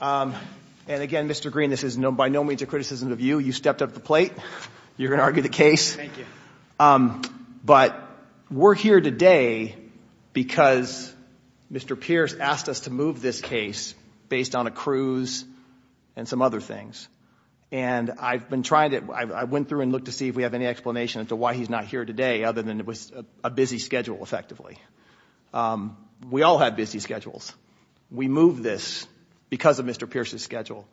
And again, Mr. Green, this is by no means a criticism of you. You stepped up to the plate. You're going to argue the case. But we're here today because Mr. Pierce asked us to move this case based on a cruise and some other things. And I've been trying to – I went through and looked to see if we have any explanation as to why he's not here today other than it was a busy schedule, effectively. We all have busy schedules. We moved this because of Mr. Pierce's schedule.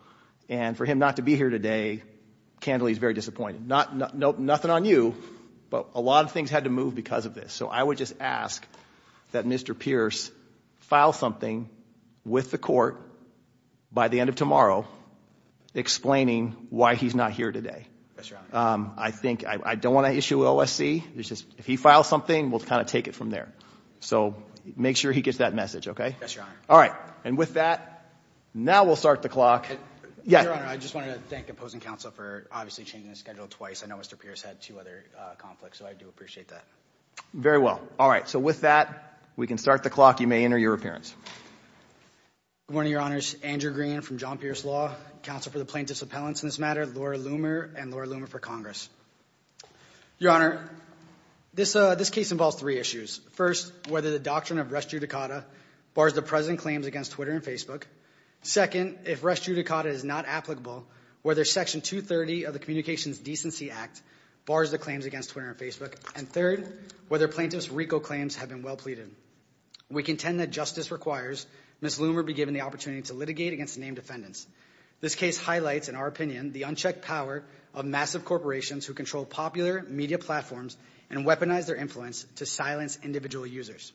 And for him not to be here today, candidly, he's very disappointed. Nothing on you, but a lot of things had to move because of this. So I would just ask that Mr. Pierce file something with the court by the end of tomorrow explaining why he's not here today. That's right. I think – I don't want to issue OSC. It's just if he files something, we'll kind of take it from there. So make sure he gets that message. Yes, Your Honor. All right. And with that, now we'll start the clock. Your Honor, I just wanted to thank opposing counsel for obviously changing the schedule twice. I know Mr. Pierce had two other conflicts, so I do appreciate that. Very well. All right. So with that, we can start the clock. You may enter your appearance. Good morning, Your Honors. Andrew Green from John Pierce Law, counsel for the plaintiffs' appellants in this matter, Laura Loomer, and Laura Loomer for Congress. Your Honor, this case involves three issues. First, whether the doctrine of res judicata bars the present claims against Twitter and Facebook. Second, if res judicata is not applicable, whether Section 230 of the Communications Decency Act bars the claims against Twitter and Facebook. And third, whether plaintiff's RICO claims have been well pleaded. We contend that justice requires Ms. Loomer be given the opportunity to litigate against the named defendants. This case highlights, in our opinion, the unchecked power of massive corporations who control popular media platforms and weaponize their influence to silence individual users.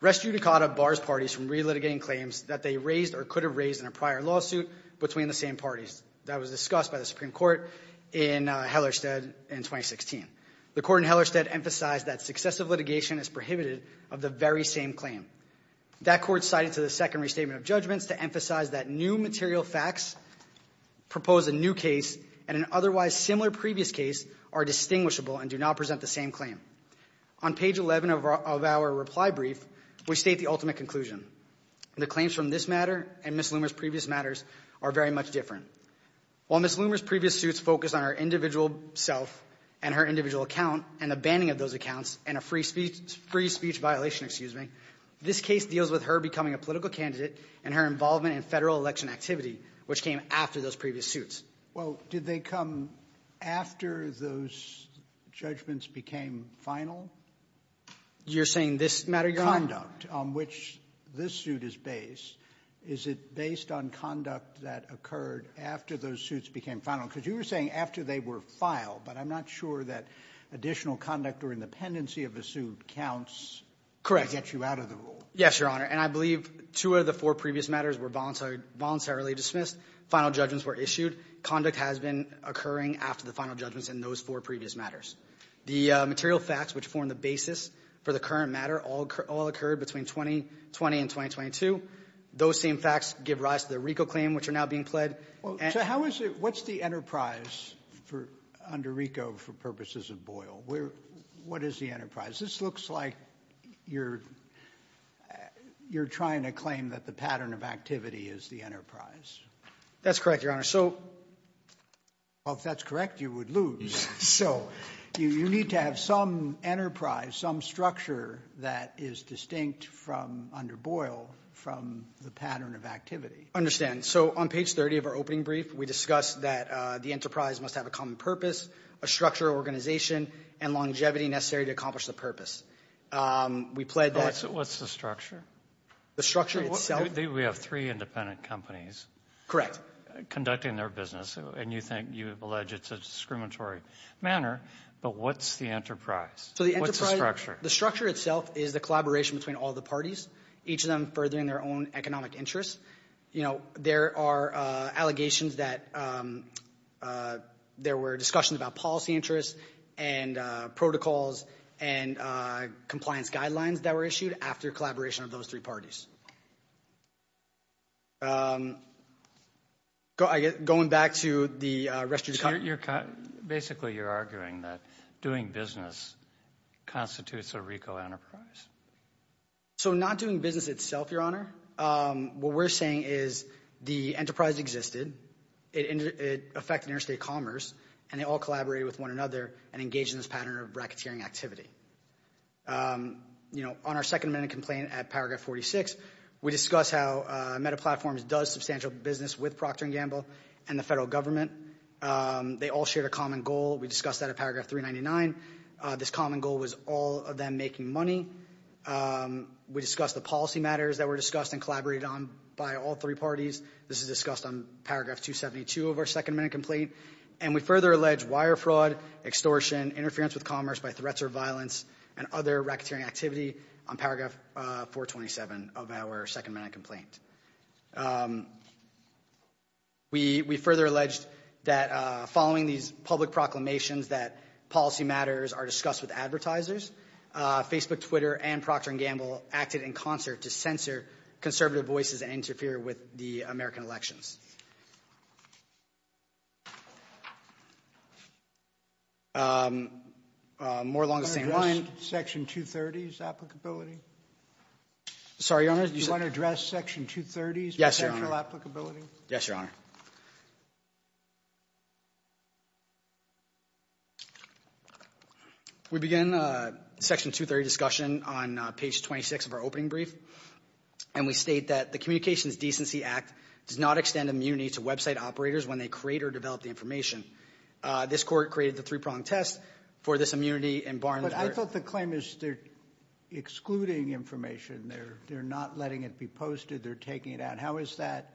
Res judicata bars parties from relitigating claims that they raised or could have raised in a prior lawsuit between the same parties. That was discussed by the Supreme Court in Hellerstedt in 2016. The court in Hellerstedt emphasized that successive litigation is prohibited of the very same claim. That court cited to the second restatement of judgments to emphasize that new material facts propose a new case and an otherwise similar previous case are distinguishable and do not present the same claim. On page 11 of our reply brief, we state the ultimate conclusion. The claims from this matter and Ms. Loomer's previous matters are very much different. While Ms. Loomer's previous suits focused on her individual self and her individual account and the banning of those accounts and a free speech violation, excuse me, this case deals with her becoming a political candidate and her involvement in Federal election activity, which came after those previous suits. Well, did they come after those judgments became final? You're saying this matter you're on? The conduct on which this suit is based, is it based on conduct that occurred after those suits became final? Because you were saying after they were filed, but I'm not sure that additional conduct or independency of a suit counts to get you out of the rule. Yes, Your Honor. And I believe two of the four previous matters were voluntarily dismissed. Final judgments were issued. Conduct has been occurring after the final judgments in those four previous matters. The material facts which form the basis for the current matter all occurred between 2020 and 2022. Those same facts give rise to the RICO claim, which are now being pledged. What's the enterprise under RICO for purposes of Boyle? What is the enterprise? This looks like you're trying to claim that the pattern of activity is the enterprise. That's correct, Your Honor. Well, if that's correct, you would lose. So you need to have some enterprise, some structure that is distinct from under Boyle from the pattern of activity. I understand. So on page 30 of our opening brief, we discussed that the enterprise must have a common purpose, a structured organization, and longevity necessary to accomplish the purpose. What's the structure? The structure itself? We have three independent companies. Correct. They're conducting their business, and you think you have alleged it's a discriminatory manner, but what's the enterprise? What's the structure? The structure itself is the collaboration between all the parties, each of them furthering their own economic interests. You know, there are allegations that there were discussions about policy interests and protocols and compliance guidelines that were issued after collaboration of those three parties. Going back to the rest of your comment. Basically, you're arguing that doing business constitutes a RICO enterprise. So not doing business itself, Your Honor. What we're saying is the enterprise existed. It affected interstate commerce, and they all collaborated with one another and engaged in this pattern of racketeering activity. You know, on our second amendment complaint at paragraph 46, we discussed how MetaPlatforms does substantial business with Procter & Gamble and the federal government. They all shared a common goal. We discussed that at paragraph 399. This common goal was all of them making money. We discussed the policy matters that were discussed and collaborated on by all three parties. This is discussed on paragraph 272 of our second amendment complaint. And we further allege wire fraud, extortion, interference with commerce by threats or violence, and other racketeering activity on paragraph 427 of our second amendment complaint. We further alleged that following these public proclamations that policy matters are discussed with advertisers, Facebook, Twitter, and Procter & Gamble acted in concert to censor conservative voices and interfere with the American elections. More along the same line. Do you want to address section 230's applicability? Sorry, Your Honor? Do you want to address section 230's potential applicability? Yes, Your Honor. Your Honor. We begin section 230 discussion on page 26 of our opening brief. And we state that the Communications Decency Act does not extend immunity to website operators when they create or develop the information. This court created the three-pronged test for this immunity and barned it. But I thought the claim is they're excluding information. They're not letting it be posted. They're taking it out. And how is that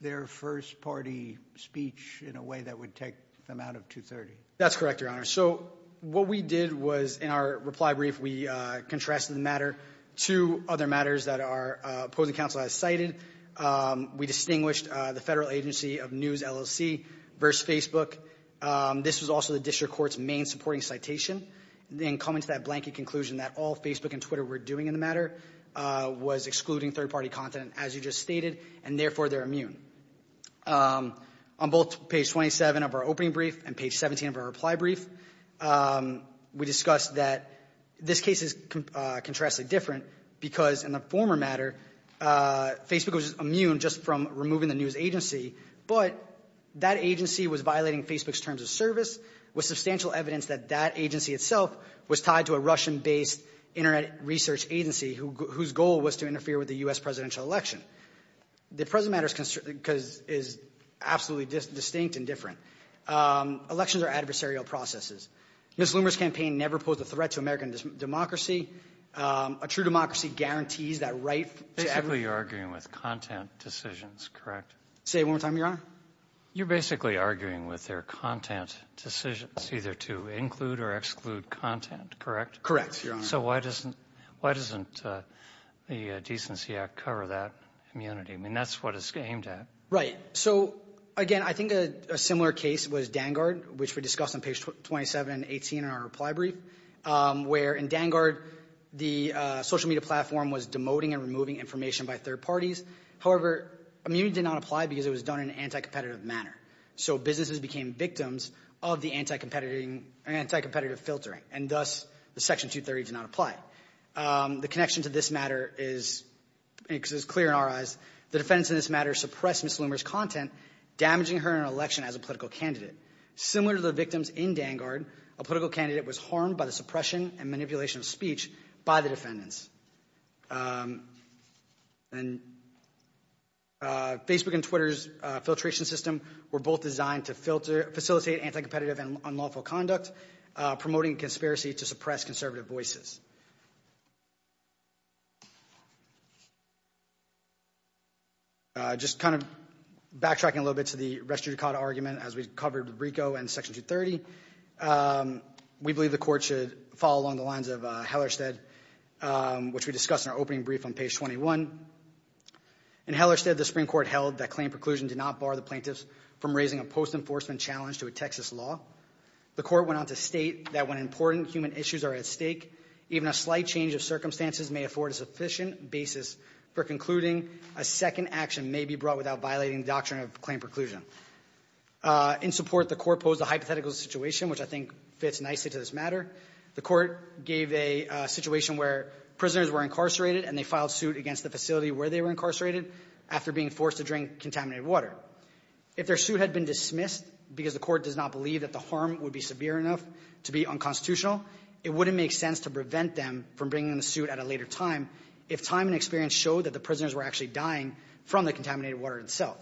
their first-party speech in a way that would take them out of 230? That's correct, Your Honor. So what we did was in our reply brief we contrasted the matter to other matters that our opposing counsel has cited. We distinguished the federal agency of News LLC versus Facebook. This was also the district court's main supporting citation. Then coming to that blanket conclusion that all Facebook and Twitter were doing in the matter was excluding third-party content, as you just stated, and therefore they're immune. On both page 27 of our opening brief and page 17 of our reply brief, we discussed that this case is contrasted different because in the former matter Facebook was immune just from removing the news agency, but that agency was violating Facebook's terms of service with substantial evidence that that agency itself was tied to a Russian-based Internet research agency whose goal was to interfere with the U.S. presidential election. The present matter is absolutely distinct and different. Elections are adversarial processes. Ms. Loomer's campaign never posed a threat to American democracy. A true democracy guarantees that right to every... Basically you're arguing with content decisions, correct? Say it one more time, Your Honor. You're basically arguing with their content decisions, either to include or exclude content, correct? Correct, Your Honor. So why doesn't the Decency Act cover that immunity? I mean, that's what it's aimed at. Right. So, again, I think a similar case was Dangard, which we discussed on page 27 and 18 in our reply brief, where in Dangard the social media platform was demoting and removing information by third parties. However, immunity did not apply because it was done in an anti-competitive manner. So businesses became victims of the anti-competitive filtering, and thus the Section 230 did not apply. The connection to this matter is clear in our eyes. The defendants in this matter suppressed Ms. Loomer's content, damaging her in an election as a political candidate. Similar to the victims in Dangard, a political candidate was harmed by the suppression and manipulation of speech by the defendants. And Facebook and Twitter's filtration system were both designed to facilitate anti-competitive and unlawful conduct, promoting conspiracy to suppress conservative voices. Just kind of backtracking a little bit to the restricted caught argument, as we covered with Brico and Section 230, we believe the court should follow along the lines of Hellerstedt, which we discussed in our opening brief on page 21. In Hellerstedt, the Supreme Court held that claim preclusion did not bar the plaintiffs from raising a post-enforcement challenge to a Texas law. The court went on to state that when important human issues are at stake, even a slight change of circumstances may afford a sufficient basis for concluding a second action may be brought without violating the doctrine of claim preclusion. In support, the court posed a hypothetical situation, which I think fits nicely to this matter. The court gave a situation where prisoners were incarcerated, and they filed suit against the facility where they were incarcerated after being forced to drink contaminated water. If their suit had been dismissed because the court does not believe that the harm would be severe enough to be unconstitutional, it wouldn't make sense to prevent them from bringing the suit at a later time if time and experience show that the prisoners were actually dying from the contaminated water itself.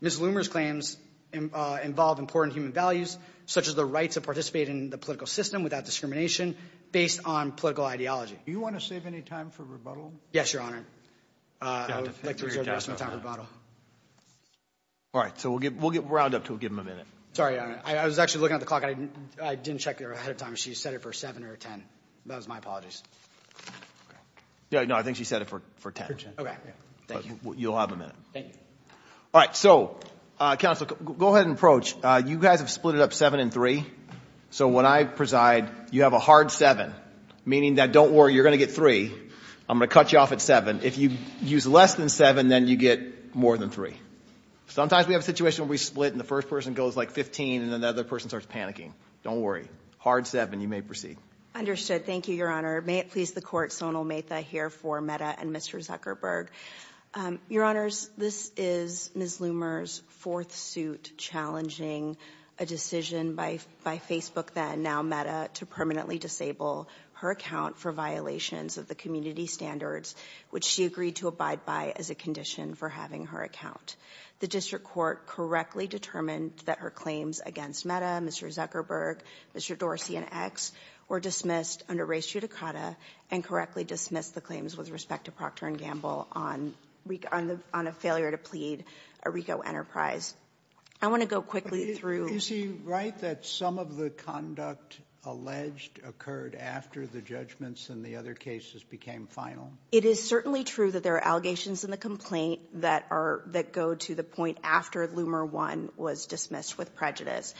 Ms. Loomer's claims involve important human values, such as the right to participate in the political system without discrimination, based on political ideology. Do you want to save any time for rebuttal? Yes, Your Honor. I would like to reserve the rest of my time for rebuttal. All right. So we'll round up until we give him a minute. Sorry, Your Honor. I was actually looking at the clock, and I didn't check ahead of time. She said it for 7 or 10. That was my apologies. No, I think she said it for 10. Okay. Thank you. You'll have a minute. Thank you. All right. So, Counsel, go ahead and approach. You guys have split it up 7 and 3. So when I preside, you have a hard 7, meaning that don't worry, you're going to get 3. I'm going to cut you off at 7. If you use less than 7, then you get more than 3. Sometimes we have a situation where we split, and the first person goes like 15, and then the other person starts panicking. Don't worry. Hard 7. You may proceed. Understood. Thank you, Your Honor. May it please the Court, Sonal Mehta here for Meda and Mr. Zuckerberg. Your Honors, this is Ms. Loomer's fourth suit challenging a decision by Facebook then, now Meda, to permanently disable her account for violations of the community standards, which she agreed to abide by as a condition for having her account. The district court correctly determined that her claims against Meda, Mr. Zuckerberg, Mr. Dorsey, and X were dismissed under res judicata and correctly dismissed the claims with respect to Procter & Gamble on a failure to plead a RICO enterprise. I want to go quickly through... Is he right that some of the conduct alleged occurred after the judgments in the other cases became final? It is certainly true that there are allegations in the complaint that go to the point after Loomer 1 was dismissed with prejudice.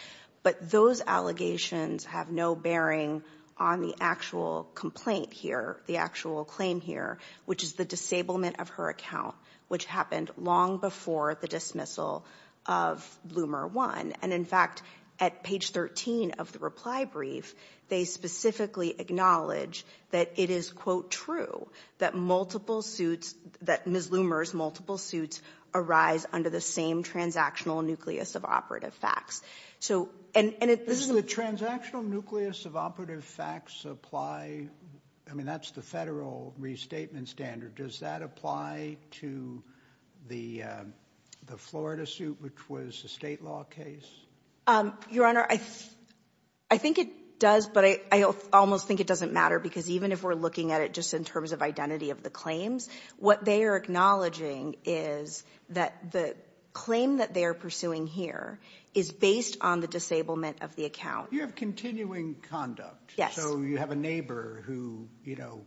But those allegations have no bearing on the actual complaint here, the actual claim here, which is the disablement of her account, which happened long before the dismissal of Loomer 1. And, in fact, at page 13 of the reply brief, they specifically acknowledge that it is, quote, that multiple suits, that Ms. Loomer's multiple suits arise under the same transactional nucleus of operative facts. So, and it... Does the transactional nucleus of operative facts apply? I mean, that's the Federal restatement standard. Does that apply to the Florida suit, which was a State law case? Your Honor, I think it does, but I almost think it doesn't matter, because even if we're looking at it just in terms of identity of the claims, what they are acknowledging is that the claim that they are pursuing here is based on the disablement of the account. You have continuing conduct. Yes. So you have a neighbor who, you know,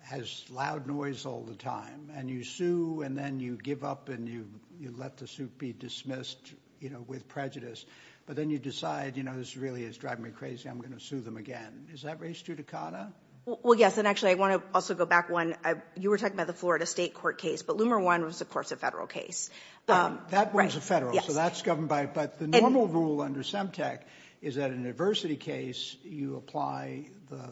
has loud noise all the time, and you sue and then you give up and you let the suit be dismissed, you know, with prejudice. But then you decide, you know, this really is driving me crazy. I'm going to sue them again. Is that res judicata? Well, yes. And actually, I want to also go back one. You were talking about the Florida State court case, but Loomer 1 was, of course, a Federal case. That one was a Federal, so that's governed by it. But the normal rule under SEMTEC is that in an adversity case, you apply the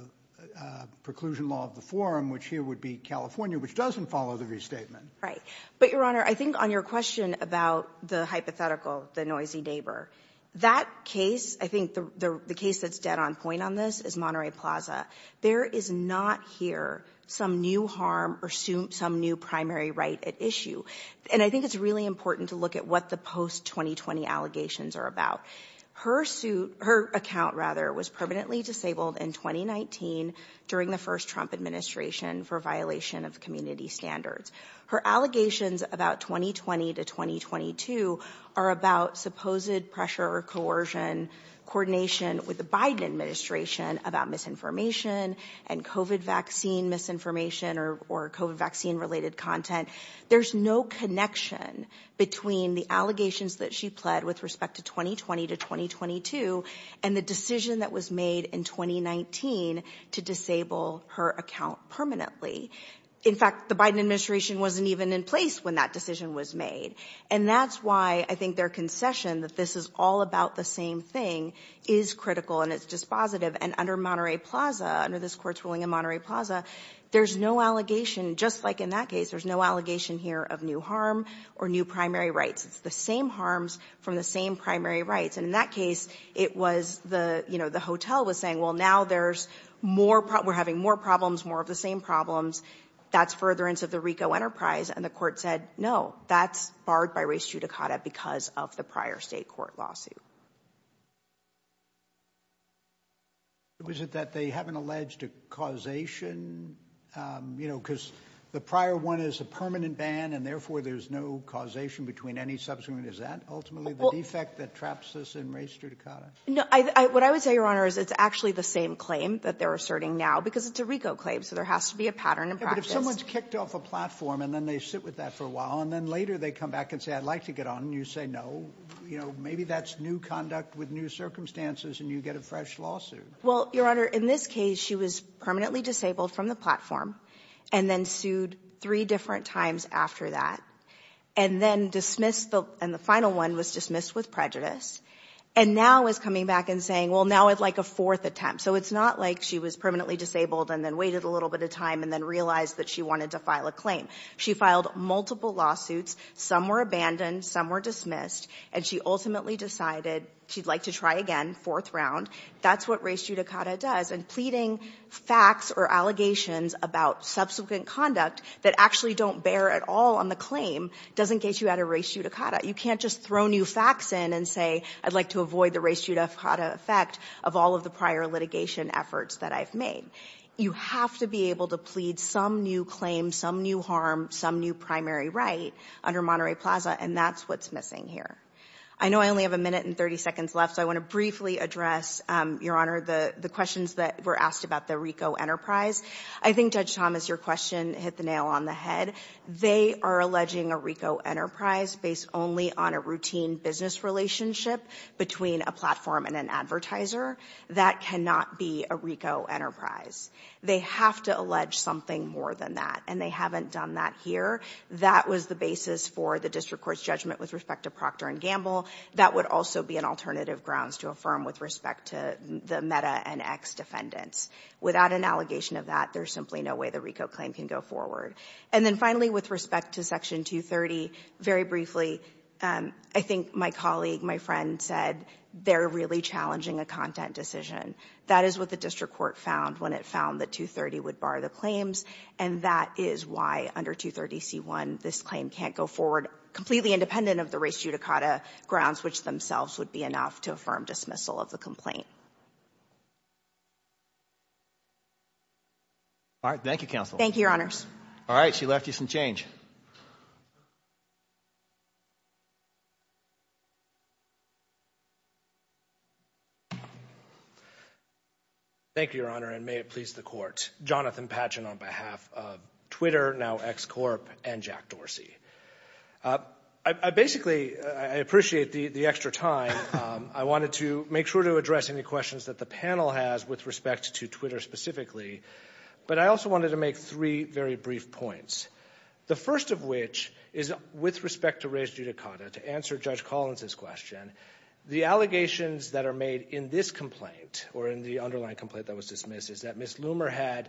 preclusion law of the forum, which here would be California, which doesn't follow the restatement. Right. But, Your Honor, I think on your question about the hypothetical, the noisy neighbor, that case, I think the case that's dead on point on this is Monterey Plaza. There is not here some new harm or some new primary right at issue. And I think it's really important to look at what the post-2020 allegations are about. Her account was permanently disabled in 2019 during the first Trump administration for violation of community standards. Her allegations about 2020 to 2022 are about supposed pressure or coercion coordination with the Biden administration about misinformation and COVID vaccine misinformation or COVID vaccine related content. There's no connection between the allegations that she pled with respect to 2020 to 2022 and the decision that was made in 2019 to disable her account permanently. In fact, the Biden administration wasn't even in place when that decision was made. And that's why I think their concession that this is all about the same thing is critical and it's dispositive. And under Monterey Plaza, under this court's ruling in Monterey Plaza, there's no allegation. Just like in that case, there's no allegation here of new harm or new primary rights. It's the same harms from the same primary rights. And in that case, it was the you know, the hotel was saying, well, now there's more. We're having more problems, more of the same problems. That's furtherance of the RICO enterprise. And the court said, no, that's barred by race judicata because of the prior state court lawsuit. Was it that they haven't alleged a causation? You know, because the prior one is a permanent ban and therefore there's no causation between any subsequent. Is that ultimately the defect that traps us in race judicata? No. What I would say, Your Honor, is it's actually the same claim that they're asserting now because it's a RICO claim. So there has to be a pattern in practice. But if someone's kicked off a platform and then they sit with that for a while and then later they come back and say, I'd like to get on and you say no, you know, maybe that's new conduct with new circumstances and you get a fresh lawsuit. Well, Your Honor, in this case, she was permanently disabled from the platform and then sued three different times after that and then dismissed the and the final one was dismissed with prejudice. And now is coming back and saying, well, now I'd like a fourth attempt. So it's not like she was permanently disabled and then waited a little bit of time and then realized that she wanted to file a claim. She filed multiple lawsuits. Some were abandoned. Some were dismissed. And she ultimately decided she'd like to try again, fourth round. That's what race judicata does. And pleading facts or allegations about subsequent conduct that actually don't bear at all on the claim doesn't get you out of race judicata. You can't just throw new facts in and say, I'd like to avoid the race judicata effect of all of the prior litigation efforts that I've made. You have to be able to plead some new claim, some new harm, some new primary right under Monterey Plaza, and that's what's missing here. I know I only have a minute and 30 seconds left, so I want to briefly address, Your Honor, the questions that were asked about the RICO Enterprise. I think Judge Thomas, your question hit the nail on the head. They are alleging a RICO Enterprise based only on a routine business relationship between a platform and an advertiser. That cannot be a RICO Enterprise. They have to allege something more than that, and they haven't done that here. That was the basis for the district court's judgment with respect to Procter & Gamble. That would also be an alternative grounds to affirm with respect to the MEDA and ex-defendants. Without an allegation of that, there's simply no way the RICO claim can go forward. And then finally, with respect to Section 230, very briefly, I think my colleague, my friend said they're really challenging a content decision. That is what the district court found when it found that 230 would bar the claims, and that is why under 230c1 this claim can't go forward completely independent of the race judicata grounds, which themselves would be enough to affirm dismissal of the complaint. All right. She left you some change. Thank you, Your Honor, and may it please the Court. Jonathan Patchen on behalf of Twitter, now XCorp, and Jack Dorsey. I basically appreciate the extra time. I wanted to make sure to address any questions that the panel has with respect to Twitter specifically, but I also wanted to make three very brief points. The first of which is with respect to race judicata. To answer Judge Collins' question, the allegations that are made in this complaint or in the underlying complaint that was dismissed is that Ms. Loomer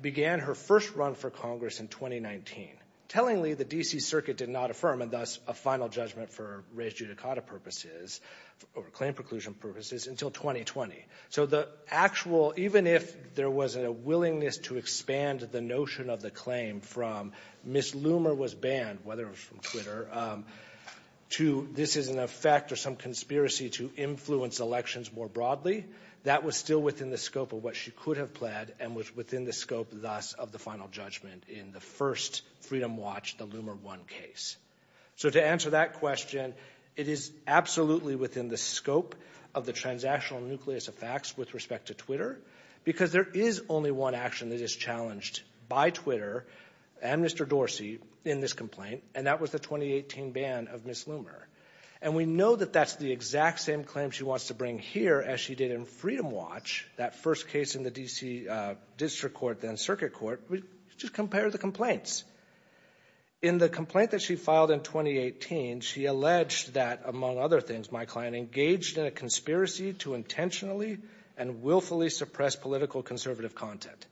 began her first run for Congress in 2019. Tellingly, the D.C. Circuit did not affirm and thus a final judgment for race judicata purposes or claim preclusion purposes until 2020. So the actual, even if there was a willingness to expand the notion of the claim from Ms. Loomer was banned, whether it was from Twitter, to this is an effect or some conspiracy to influence elections more broadly, that was still within the scope of what she could have pled and was within the scope thus of the final judgment in the first Freedom Watch, the Loomer 1 case. So to answer that question, it is absolutely within the scope of the transactional nucleus of facts with respect to Twitter because there is only one action that is challenged by Twitter and Mr. Dorsey in this complaint, and that was the 2018 ban of Ms. Loomer. And we know that that's the exact same claim she wants to bring here as she did in Freedom Watch, that first case in the D.C. District Court, then Circuit Court. Just compare the complaints. In the complaint that she filed in 2018, she alleged that, among other things, my client engaged in a conspiracy to intentionally and willfully suppress political conservative content.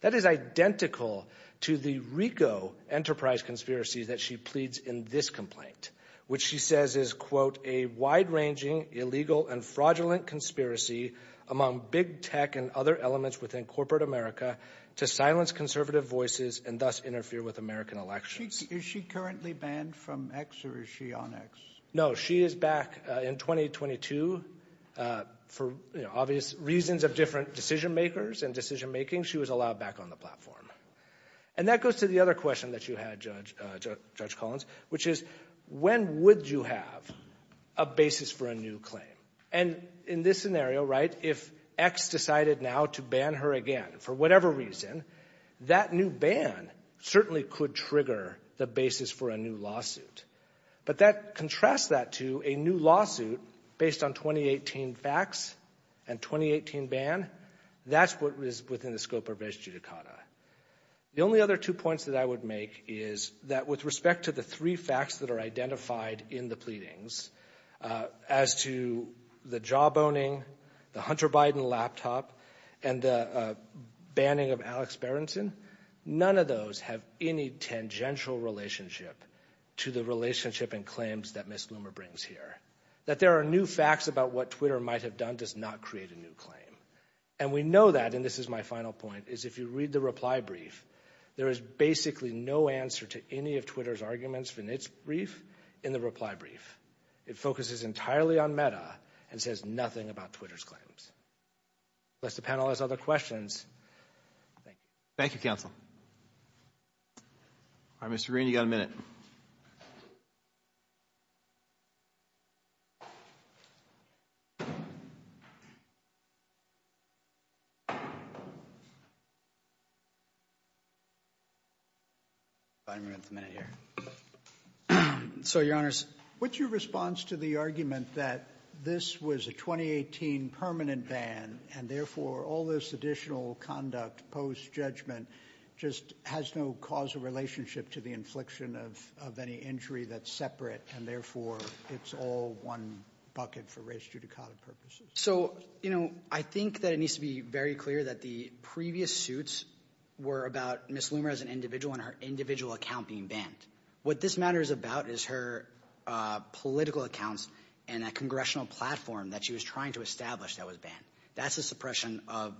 That is identical to the RICO enterprise conspiracy that she pleads in this complaint, which she says is, quote, a wide-ranging, illegal, and fraudulent conspiracy among big tech and other elements within corporate America to silence conservative voices and thus interfere with American elections. Is she currently banned from X or is she on X? No. She is back in 2022 for obvious reasons of different decision-makers and decision-making. She was allowed back on the platform. And that goes to the other question that you had, Judge Collins, which is when would you have a basis for a new claim? And in this scenario, right, if X decided now to ban her again for whatever reason, that new ban certainly could trigger the basis for a new lawsuit. But that contrasts that to a new lawsuit based on 2018 facts and 2018 ban. That's what is within the scope of ex judicata. The only other two points that I would make is that with respect to the three facts that are identified in the pleadings as to the job-owning, the Hunter Biden laptop, and the banning of Alex Berenson, none of those have any tangential relationship to the relationship and claims that Ms. Loomer brings here. That there are new facts about what Twitter might have done does not create a new claim. And we know that, and this is my final point, is if you read the reply brief, there is basically no answer to any of Twitter's arguments in its brief in the reply brief. It focuses entirely on meta and says nothing about Twitter's claims. Unless the panel has other questions. Thank you, counsel. All right, Mr. Green, you've got a minute. So, Your Honors, what's your response to the argument that this was a 2018 permanent ban and, therefore, all this additional conduct post-judgment just has no causal relationship to the infliction of any injury that's separate and, therefore, it's all one bucket for race judicata purposes? So, you know, I think that it needs to be very clear that the previous suits were about Ms. Loomer as an individual and her individual account being banned. What this matter is about is her political accounts and that congressional platform that she was trying to establish that was banned. That's the suppression of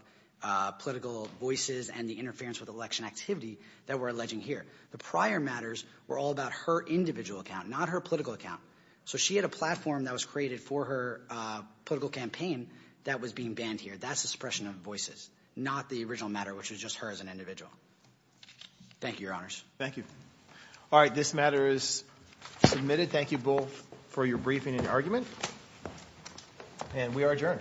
political voices and the interference with election activity that we're alleging here. The prior matters were all about her individual account, not her political account. So she had a platform that was created for her political campaign that was being banned here. That's the suppression of voices, not the original matter, which was just her as an individual. Thank you, Your Honors. Thank you. All right, this matter is submitted. Thank you both for your briefing and your argument, and we are adjourned. All rise. Thank you.